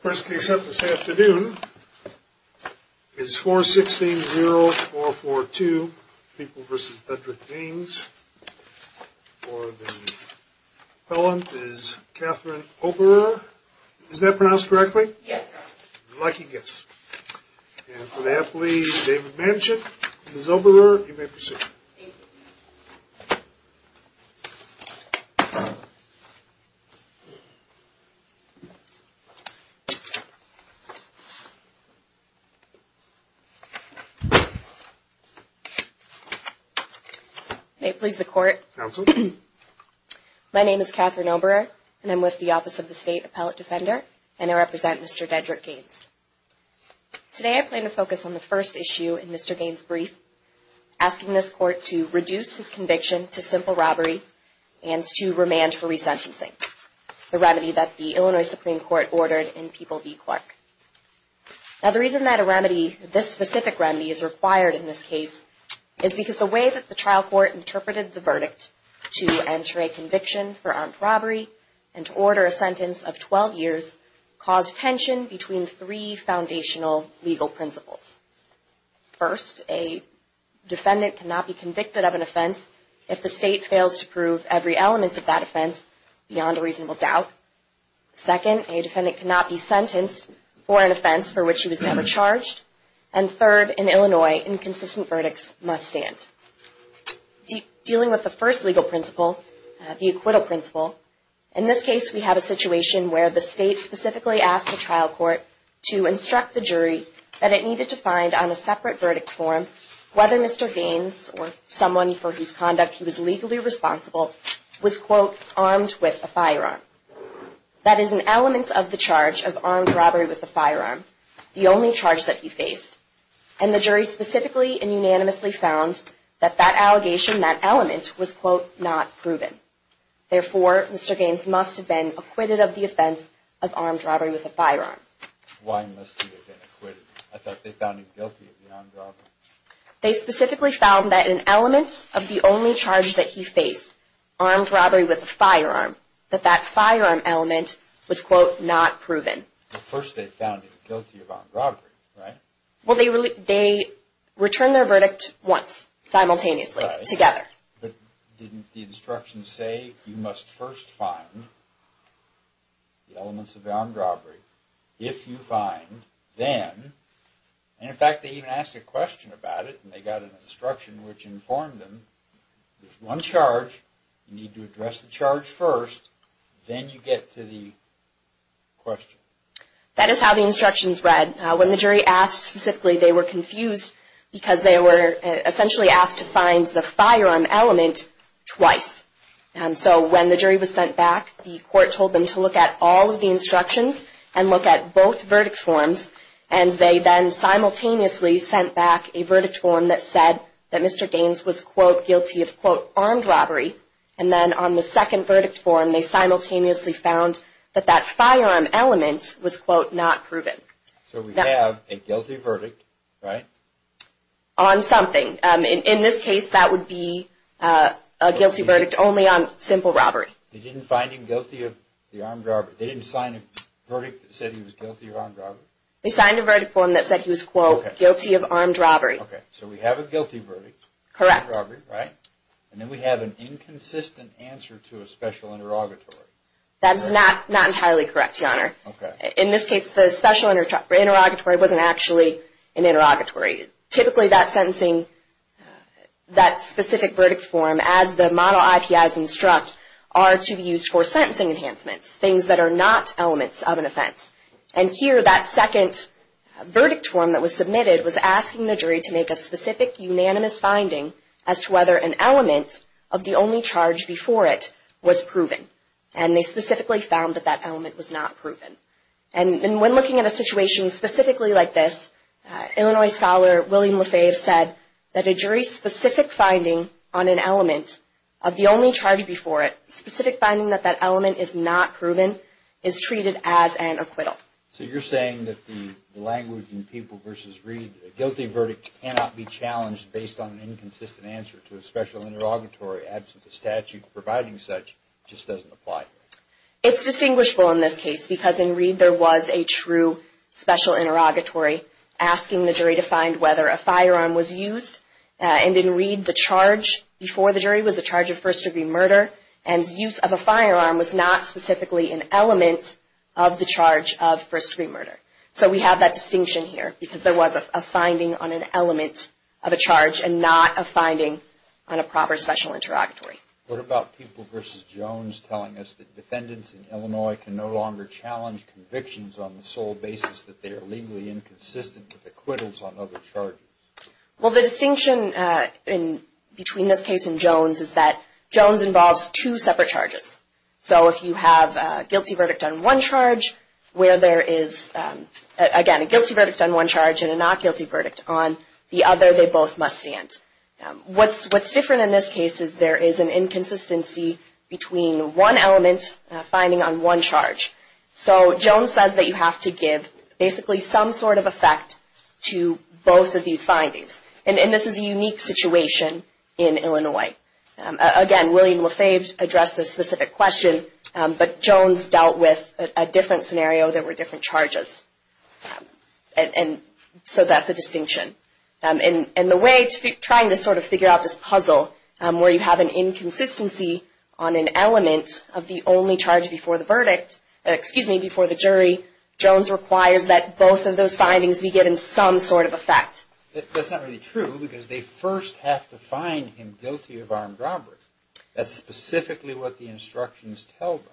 First case up this afternoon is 416-0442, People v. Bedrick-Gaines. For the appellant is Catherine Oberer. Is that pronounced correctly? Yes, sir. Lucky guess. And for the athlete, David Manchin. Ms. Oberer, you may proceed. Thank you. May it please the court. Counsel. My name is Catherine Oberer, and I'm with the Office of the State Appellate Defender, and I represent Mr. Bedrick-Gaines. Today I plan to focus on the first issue in Mr. Gaines' brief, asking this court to reduce his conviction to simple robbery and to remand for resentencing, the remedy that the Illinois Supreme Court ordered in People v. Clark. Now, the reason that a remedy, this specific remedy, is required in this case is because the way that the trial court interpreted the verdict to enter a conviction for armed robbery and to order a sentence of 12 years caused tension between three foundational legal principles. First, a defendant cannot be convicted of an offense if the state fails to prove every element of that offense beyond a reasonable doubt. Second, a defendant cannot be sentenced for an offense for which he was never charged. And third, in Illinois, inconsistent verdicts must stand. Dealing with the first legal principle, the acquittal principle, in this case we have a situation where the state specifically asked the trial court to instruct the jury that it needed to find on a separate verdict form whether Mr. Gaines or someone for whose conduct he was legally responsible was, quote, armed with a firearm. That is an element of the charge of armed robbery with a firearm, the only charge that he faced. And the jury specifically and unanimously found that that allegation, that element, was, quote, not proven. Therefore, Mr. Gaines must have been acquitted of the offense of armed robbery with a firearm. Why must he have been acquitted? I thought they found him guilty of the armed robbery. They specifically found that in elements of the only charge that he faced, armed robbery with a firearm, that that firearm element was, quote, not proven. But first they found him guilty of armed robbery, right? Well, they returned their verdict once, simultaneously, together. But didn't the instructions say you must first find the elements of armed robbery? If you find, then, and in fact they even asked a question about it, and they got an instruction which informed them, there's one charge, you need to address the charge first, then you get to the question. That is how the instructions read. When the jury asked specifically, they were confused because they were essentially asked to find the firearm element twice. And so when the jury was sent back, the court told them to look at all of the instructions and look at both verdict forms. And they then simultaneously sent back a verdict form that said that Mr. Gaines was, quote, guilty of, quote, armed robbery. And then on the second verdict form, they simultaneously found that that firearm element was, quote, not proven. So we have a guilty verdict, right? On something. In this case, that would be a guilty verdict only on simple robbery. They didn't find him guilty of the armed robbery. They didn't sign a verdict that said he was guilty of armed robbery? They signed a verdict form that said he was, quote, guilty of armed robbery. Okay. So we have a guilty verdict. Correct. Armed robbery, right? And then we have an inconsistent answer to a special interrogatory. That is not entirely correct, Your Honor. Okay. In this case, the special interrogatory wasn't actually an interrogatory. Typically, that sentencing, that specific verdict form, as the model IPIs instruct, are to be used for sentencing enhancements. Things that are not elements of an offense. And here, that second verdict form that was submitted was asking the jury to make a specific, unanimous finding as to whether an element of the only charge before it was proven. And they specifically found that that element was not proven. And when looking at a situation specifically like this, Illinois scholar William Lefebvre said that a jury's specific finding on an element of the only charge before it, specific finding that that element is not proven, is treated as an acquittal. So you're saying that the language in People v. Reed, a guilty verdict cannot be challenged based on an inconsistent answer to a special interrogatory, absent a statute providing such, just doesn't apply. It's distinguishable in this case because in Reed there was a true special interrogatory asking the jury to find whether a firearm was used. And in Reed, the charge before the jury was a charge of first-degree murder, and use of a firearm was not specifically an element of the charge of first-degree murder. So we have that distinction here because there was a finding on an element of a charge and not a finding on a proper special interrogatory. What about People v. Jones telling us that defendants in Illinois can no longer challenge convictions on the sole basis that they are legally inconsistent with acquittals on other charges? Well, the distinction between this case and Jones is that Jones involves two separate charges. So if you have a guilty verdict on one charge where there is, again, a guilty verdict on one charge and a not guilty verdict on the other, they both must stand. What's different in this case is there is an inconsistency between one element finding on one charge. So Jones says that you have to give basically some sort of effect to both of these findings. And this is a unique situation in Illinois. Again, William LaFave addressed this specific question, but Jones dealt with a different scenario. There were different charges. And so that's a distinction. And the way it's trying to sort of figure out this puzzle where you have an inconsistency on an element of the only charge before the verdict, excuse me, before the jury, Jones requires that both of those findings be given some sort of effect. That's not really true because they first have to find him guilty of armed robbery. That's specifically what the instructions tell them.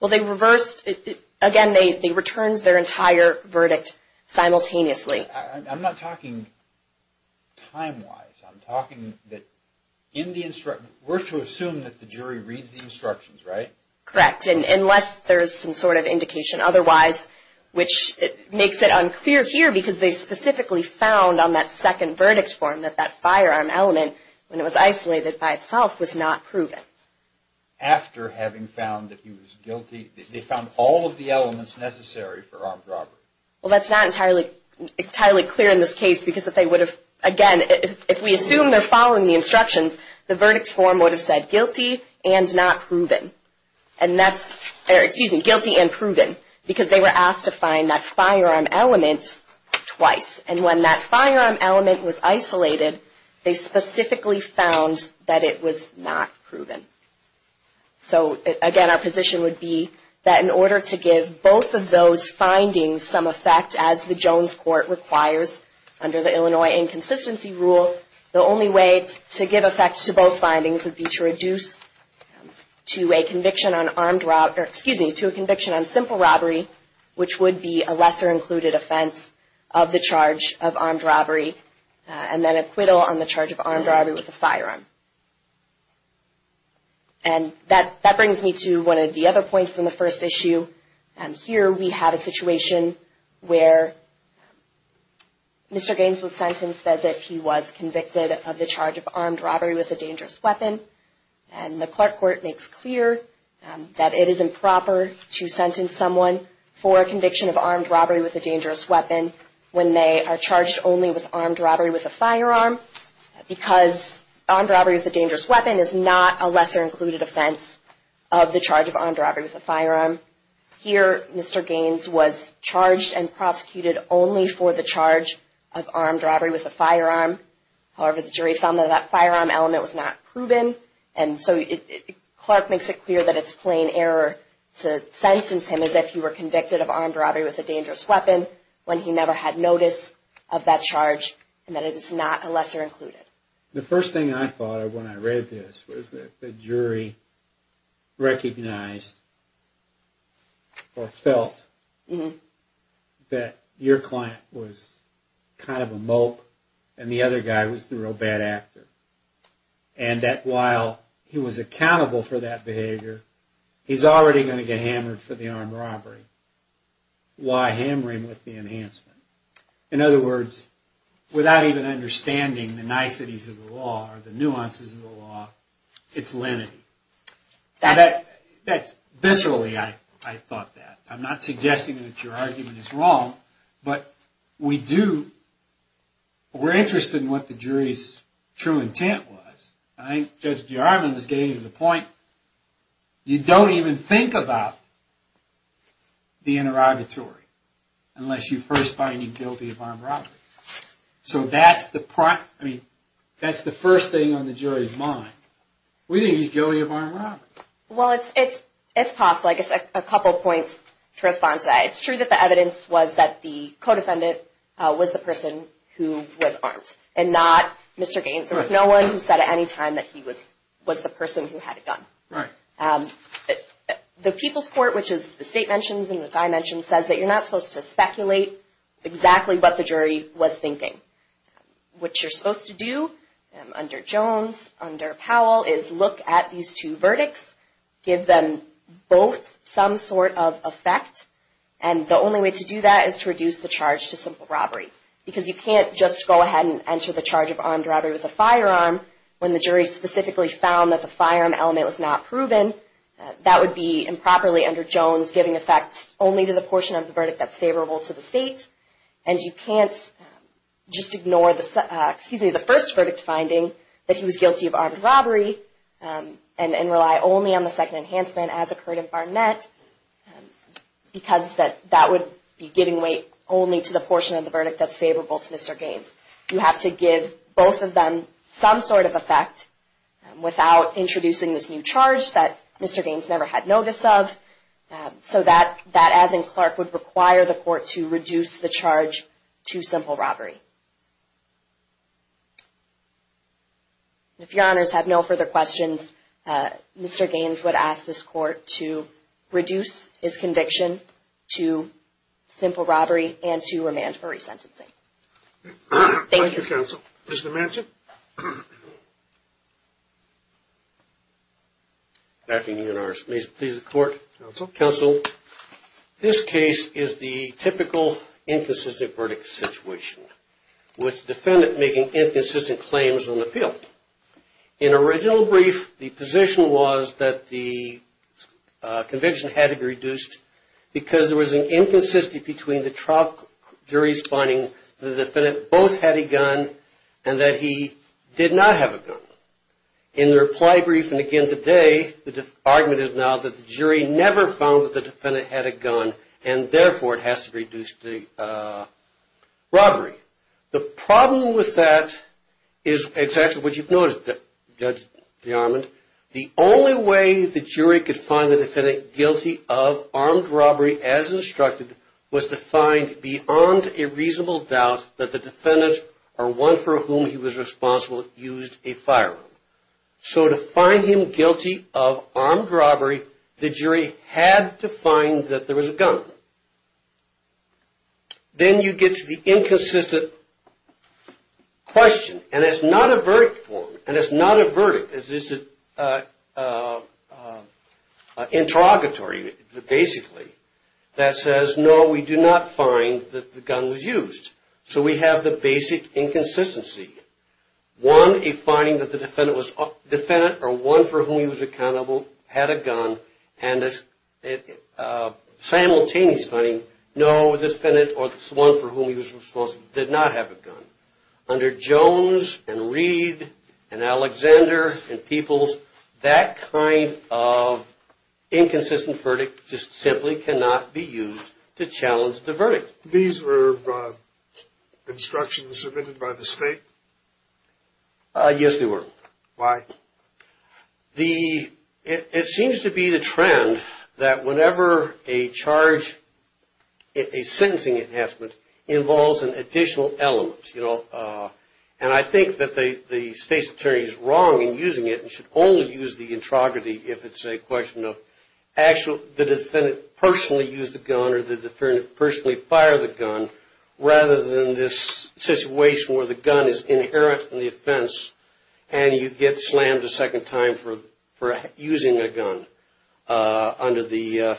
Well, they reversed it. Again, they returned their entire verdict simultaneously. I'm not talking time-wise. We're to assume that the jury reads the instructions, right? Correct, unless there is some sort of indication otherwise, which makes it unclear here because they specifically found on that second verdict form that that firearm element, when it was isolated by itself, was not proven. After having found that he was guilty, they found all of the elements necessary for armed robbery. Well, that's not entirely clear in this case because if they would have, again, if we assume they're following the instructions, the verdict form would have said guilty and not proven. And that's, excuse me, guilty and proven because they were asked to find that firearm element twice. And when that firearm element was isolated, they specifically found that it was not proven. So, again, our position would be that in order to give both of those findings some effect, as the Jones Court requires under the Illinois Inconsistency Rule, the only way to give effect to both findings would be to reduce to a conviction on armed robbery, or excuse me, to a conviction on simple robbery, which would be a lesser included offense of the charge of armed robbery, and then acquittal on the charge of armed robbery with a firearm. And that brings me to one of the other points in the first issue. Here we have a situation where Mr. Gaines was sentenced as if he was convicted of the charge of armed robbery with a dangerous weapon. And the Clark Court makes clear that it is improper to sentence someone for a conviction of armed robbery with a dangerous weapon when they are charged only with armed robbery with a firearm, because armed robbery with a dangerous weapon is not a lesser included offense of the charge of armed robbery with a firearm. Here, Mr. Gaines was charged and prosecuted only for the charge of armed robbery with a firearm. However, the jury found that that firearm element was not proven, and so Clark makes it clear that it's plain error to sentence him as if he were convicted of armed robbery with a dangerous weapon when he never had notice of that charge and that it is not a lesser included. The first thing I thought of when I read this was that the jury recognized or felt that your client was kind of a mope and the other guy was the real bad actor. And that while he was accountable for that behavior, he's already going to get hammered for the armed robbery. Why hammer him with the enhancement? In other words, without even understanding the niceties of the law or the nuances of the law, it's lenity. Viscerally, I thought that. I'm not suggesting that your argument is wrong, but we're interested in what the jury's true intent was. I think Judge Jarman gave the point. You don't even think about the interrogatory unless you first find him guilty of armed robbery. So that's the first thing on the jury's mind. We think he's guilty of armed robbery. Well, it's possible. I guess a couple points to respond to that. It's true that the evidence was that the co-defendant was the person who was armed and not Mr. Gaines. There was no one who said at any time that he was the person who had a gun. The People's Court, which the state mentions and which I mentioned, says that you're not supposed to speculate exactly what the jury was thinking. What you're supposed to do under Jones, under Powell, is look at these two verdicts, give them both some sort of effect, and the only way to do that is to reduce the charge to simple robbery. Because you can't just go ahead and enter the charge of armed robbery with a firearm when the jury specifically found that the firearm element was not proven. That would be improperly, under Jones, giving effect only to the portion of the verdict that's favorable to the state. And you can't just ignore the first verdict finding that he was guilty of armed robbery and rely only on the second enhancement, as occurred in Barnett, because that would be giving weight only to the portion of the verdict that's favorable to Mr. Gaines. You have to give both of them some sort of effect without introducing this new charge that Mr. Gaines never had notice of, so that, as in Clark, would require the court to reduce the charge to simple robbery. If your honors have no further questions, Mr. Gaines would ask this court to reduce his conviction to simple robbery and to remand for resentencing. Thank you, counsel. Mr. Manchin. Good afternoon, your honors. May it please the court. Counsel. Counsel. This case is the typical inconsistent verdict situation, with the defendant making inconsistent claims on appeal. In original brief, the position was that the conviction had to be reduced because there was an inconsistency between the trial jury's finding that the defendant both had a gun and that he did not have a gun. In the reply brief, and again today, the argument is now that the jury never found that the defendant had a gun, and therefore it has to be reduced to robbery. The problem with that is exactly what you've noticed, Judge DeArmond. The only way the jury could find the defendant guilty of armed robbery, as instructed, was to find beyond a reasonable doubt that the defendant, or one for whom he was responsible, used a firearm. So to find him guilty of armed robbery, the jury had to find that there was a gun. Then you get to the inconsistent question, and it's not a verdict form, and it's not a verdict. It's an interrogatory, basically, that says, no, we do not find that the gun was used. So we have the basic inconsistency. One, a finding that the defendant, or one for whom he was accountable, had a gun, and a simultaneous finding, no, the defendant, or the one for whom he was responsible, did not have a gun. Under Jones and Reed and Alexander and Peoples, that kind of inconsistent verdict just simply cannot be used to challenge the verdict. These were instructions submitted by the state? Yes, they were. Why? Well, it seems to be the trend that whenever a charge, a sentencing enhancement, involves an additional element. And I think that the state's attorney is wrong in using it, and should only use the introverty if it's a question of, actually, the defendant personally used the gun, or the defendant personally fired the gun, rather than this situation where the gun is inherent in the offense, and you get slammed a second time for using a gun under the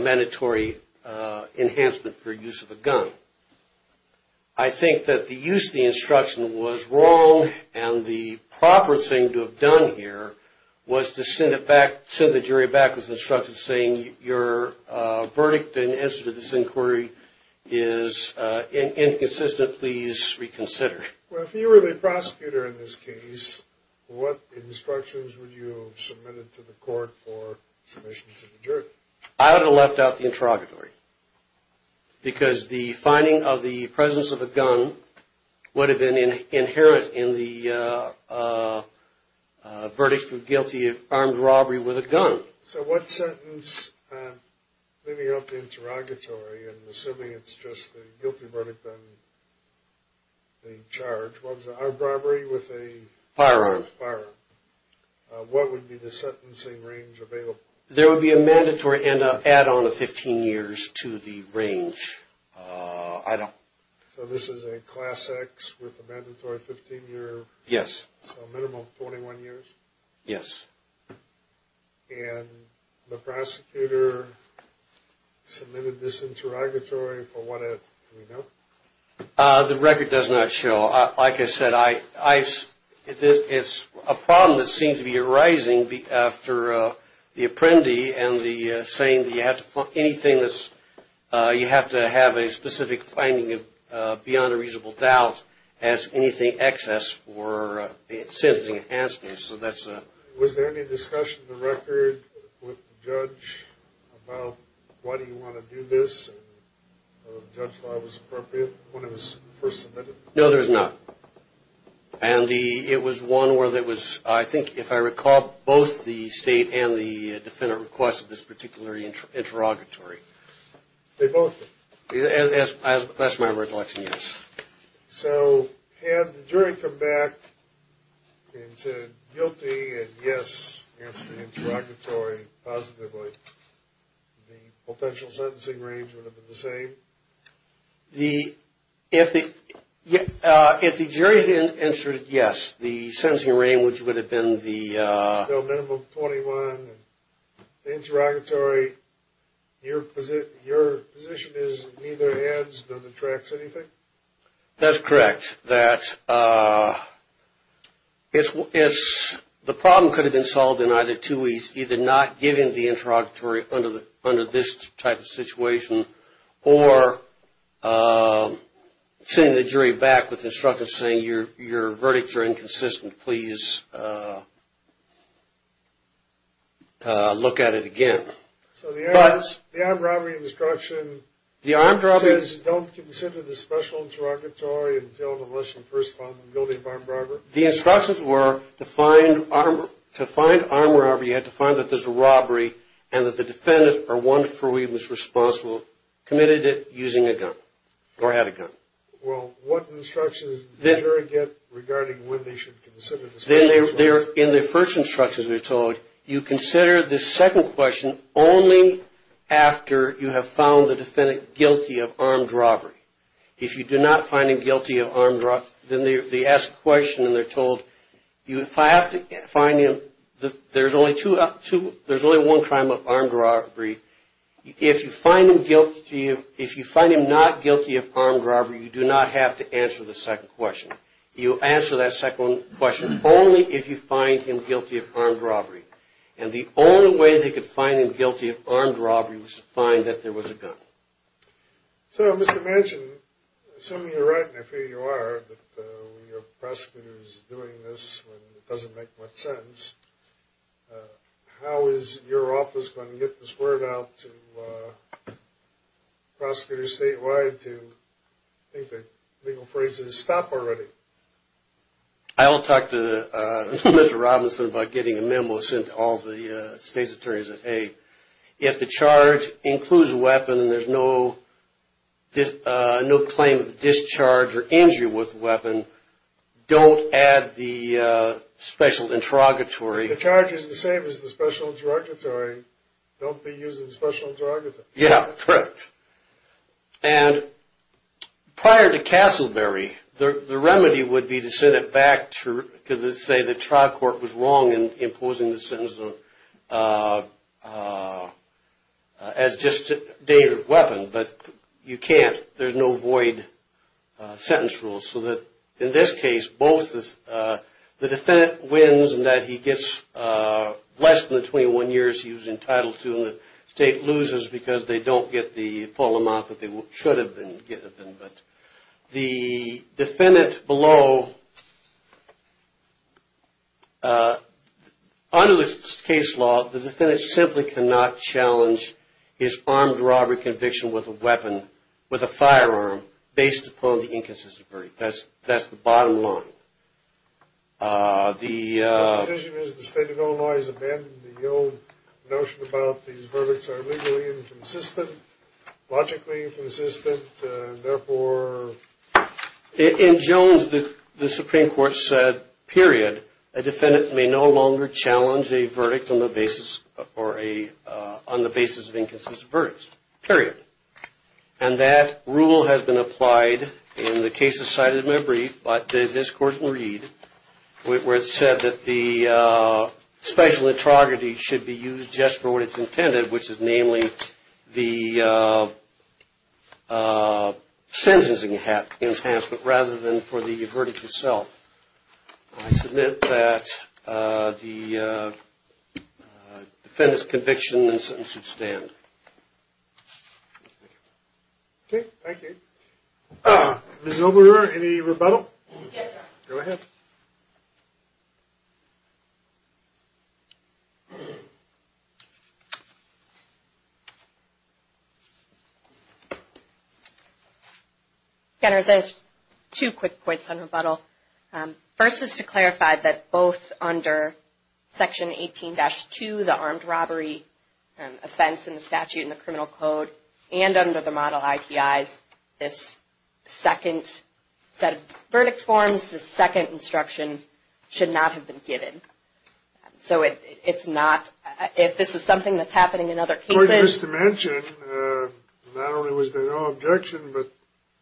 mandatory enhancement for use of a gun. I think that the use of the instruction was wrong, and the proper thing to have done here was to send it back, with instructions saying, your verdict in answer to this inquiry is inconsistent, please reconsider. Well, if you were the prosecutor in this case, what instructions would you have submitted to the court for submission to the jury? I would have left out the interrogatory, because the finding of the presence of a gun would have been inherent in the verdict for guilty of armed robbery with a gun. So what sentence, leaving out the interrogatory, and assuming it's just the guilty verdict on the charge, what was it, armed robbery with a? Firearm. Firearm. What would be the sentencing range available? There would be a mandatory and an add-on of 15 years to the range. So this is a Class X with a mandatory 15 year? Yes. So a minimum of 21 years? Yes. And the prosecutor submitted this interrogatory for what, do we know? The record does not show. Like I said, it's a problem that seems to be arising after the apprendee and the saying that you have to find anything that's, you have to have a specific finding beyond a reasonable doubt as anything excess for the sentencing enhancement, so that's. Was there any discussion in the record with the judge about why do you want to do this? And whether the judge thought it was appropriate when it was first submitted? No, there was not. And it was one where there was, I think, if I recall, both the state and the defendant requested this particular interrogatory. They both did? That's my recollection, yes. So had the jury come back and said guilty and yes, answer the interrogatory positively, the potential sentencing range would have been the same? If the jury had answered yes, the sentencing range would have been the... That's correct. That the problem could have been solved in either two ways, either not giving the interrogatory under this type of situation or sending the jury back with instructions saying your verdicts are inconsistent, please look at it again. So the armed robbery instruction says don't consider this special interrogatory until unless you've first found the guilty of armed robbery? The instructions were to find armed robbery, you had to find that there's a robbery and that the defendant or one for whom he was responsible committed it using a gun or had a gun. Well, what instructions did the jury get regarding when they should consider the special interrogatory? In the first instructions they're told you consider the second question only after you have found the defendant guilty of armed robbery. If you do not find him guilty of armed robbery, then they ask a question and they're told if I have to find him, there's only one crime of armed robbery. If you find him not guilty of armed robbery, you do not have to answer the second question. You answer that second question only if you find him guilty of armed robbery and the only way they could find him guilty of armed robbery was to find that there was a gun. So Mr. Manchin, assuming you're right and I figure you are, that we have prosecutors doing this when it doesn't make much sense, how is your office going to get this word out to prosecutors statewide to, I think the legal phrase is stop already? I'll talk to Mr. Robinson about getting a memo sent to all the state's attorneys that hey, if the charge includes a weapon and there's no claim of discharge or injury with the weapon, don't add the special interrogatory. If the charge is the same as the special interrogatory, don't be using special interrogatory. Yeah, correct. And prior to Castleberry, the remedy would be to send it back to, because let's say the trial court was wrong in imposing the sentence as just a dangerous weapon, but you can't. There's no void sentence rule. So in this case, both the defendant wins in that he gets less than the 21 years he was entitled to and the state loses because they don't get the full amount that they should have been getting. But the defendant below, under this case law, the defendant simply cannot challenge his armed robbery conviction with a weapon, with a firearm based upon the inconsistent verdict. That's the bottom line. The decision is the state of Illinois has abandoned the old notion about these verdicts are legally inconsistent, logically inconsistent, and therefore. In Jones, the Supreme Court said, period, a defendant may no longer challenge a verdict on the basis of inconsistent verdicts, period. And that rule has been applied in the cases cited in my brief, but this court can read, where it said that the special interrogatory should be used just for what it's intended, which is namely the sentencing enhancement rather than for the verdict itself. I submit that the defendant's conviction and sentence should stand. Okay, thank you. Ms. Obrador, any rebuttal? Yes, sir. Go ahead. Again, I have two quick points on rebuttal. First is to clarify that both under Section 18-2, the armed robbery offense in the statute and the criminal code, and under the model IPIs, this second set of verdict forms, this second instruction, should not have been given. So it's not, if this is something that's happening in other cases. Court is to mention, not only was there no objection, but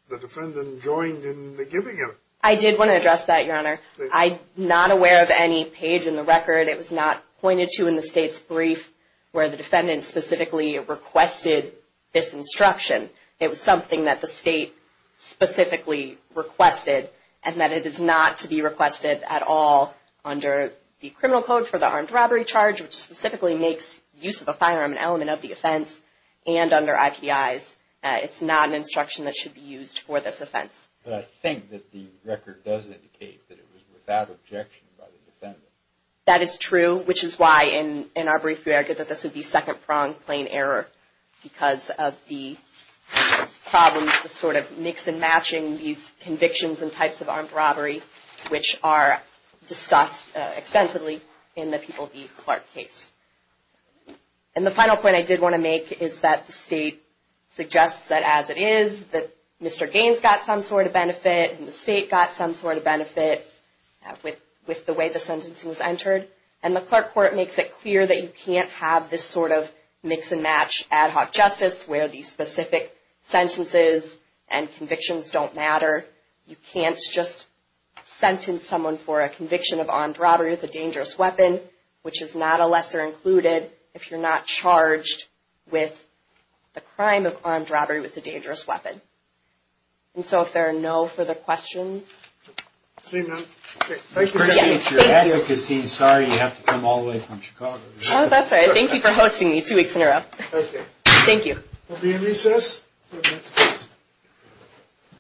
the defendant joined in the giving of it. I did want to address that, Your Honor. I'm not aware of any page in the record, it was not pointed to in the state's brief, where the defendant specifically requested this instruction. It was something that the state specifically requested, and that it is not to be requested at all under the criminal code for the armed robbery charge, which specifically makes use of a firearm an element of the offense, and under IPIs. It's not an instruction that should be used for this offense. But I think that the record does indicate that it was without objection by the defendant. That is true, which is why, in our brief, we argued that this would be second-pronged plain error, because of the problems with sort of mix-and-matching these convictions and types of armed robbery, which are discussed extensively in the People v. Clark case. And the final point I did want to make is that the state suggests that as it is, that Mr. Gaines got some sort of benefit, and the state got some sort of benefit, with the way the sentencing was entered. And the Clark court makes it clear that you can't have this sort of mix-and-match ad hoc justice, where these specific sentences and convictions don't matter. You can't just sentence someone for a conviction of armed robbery with a dangerous weapon, which is not a lesser included if you're not charged with the crime of armed robbery with a dangerous weapon. And so if there are no further questions. I appreciate your advocacy. Sorry you have to come all the way from Chicago. Oh, that's all right. Thank you for hosting me two weeks in a row. Thank you. We'll be in recess.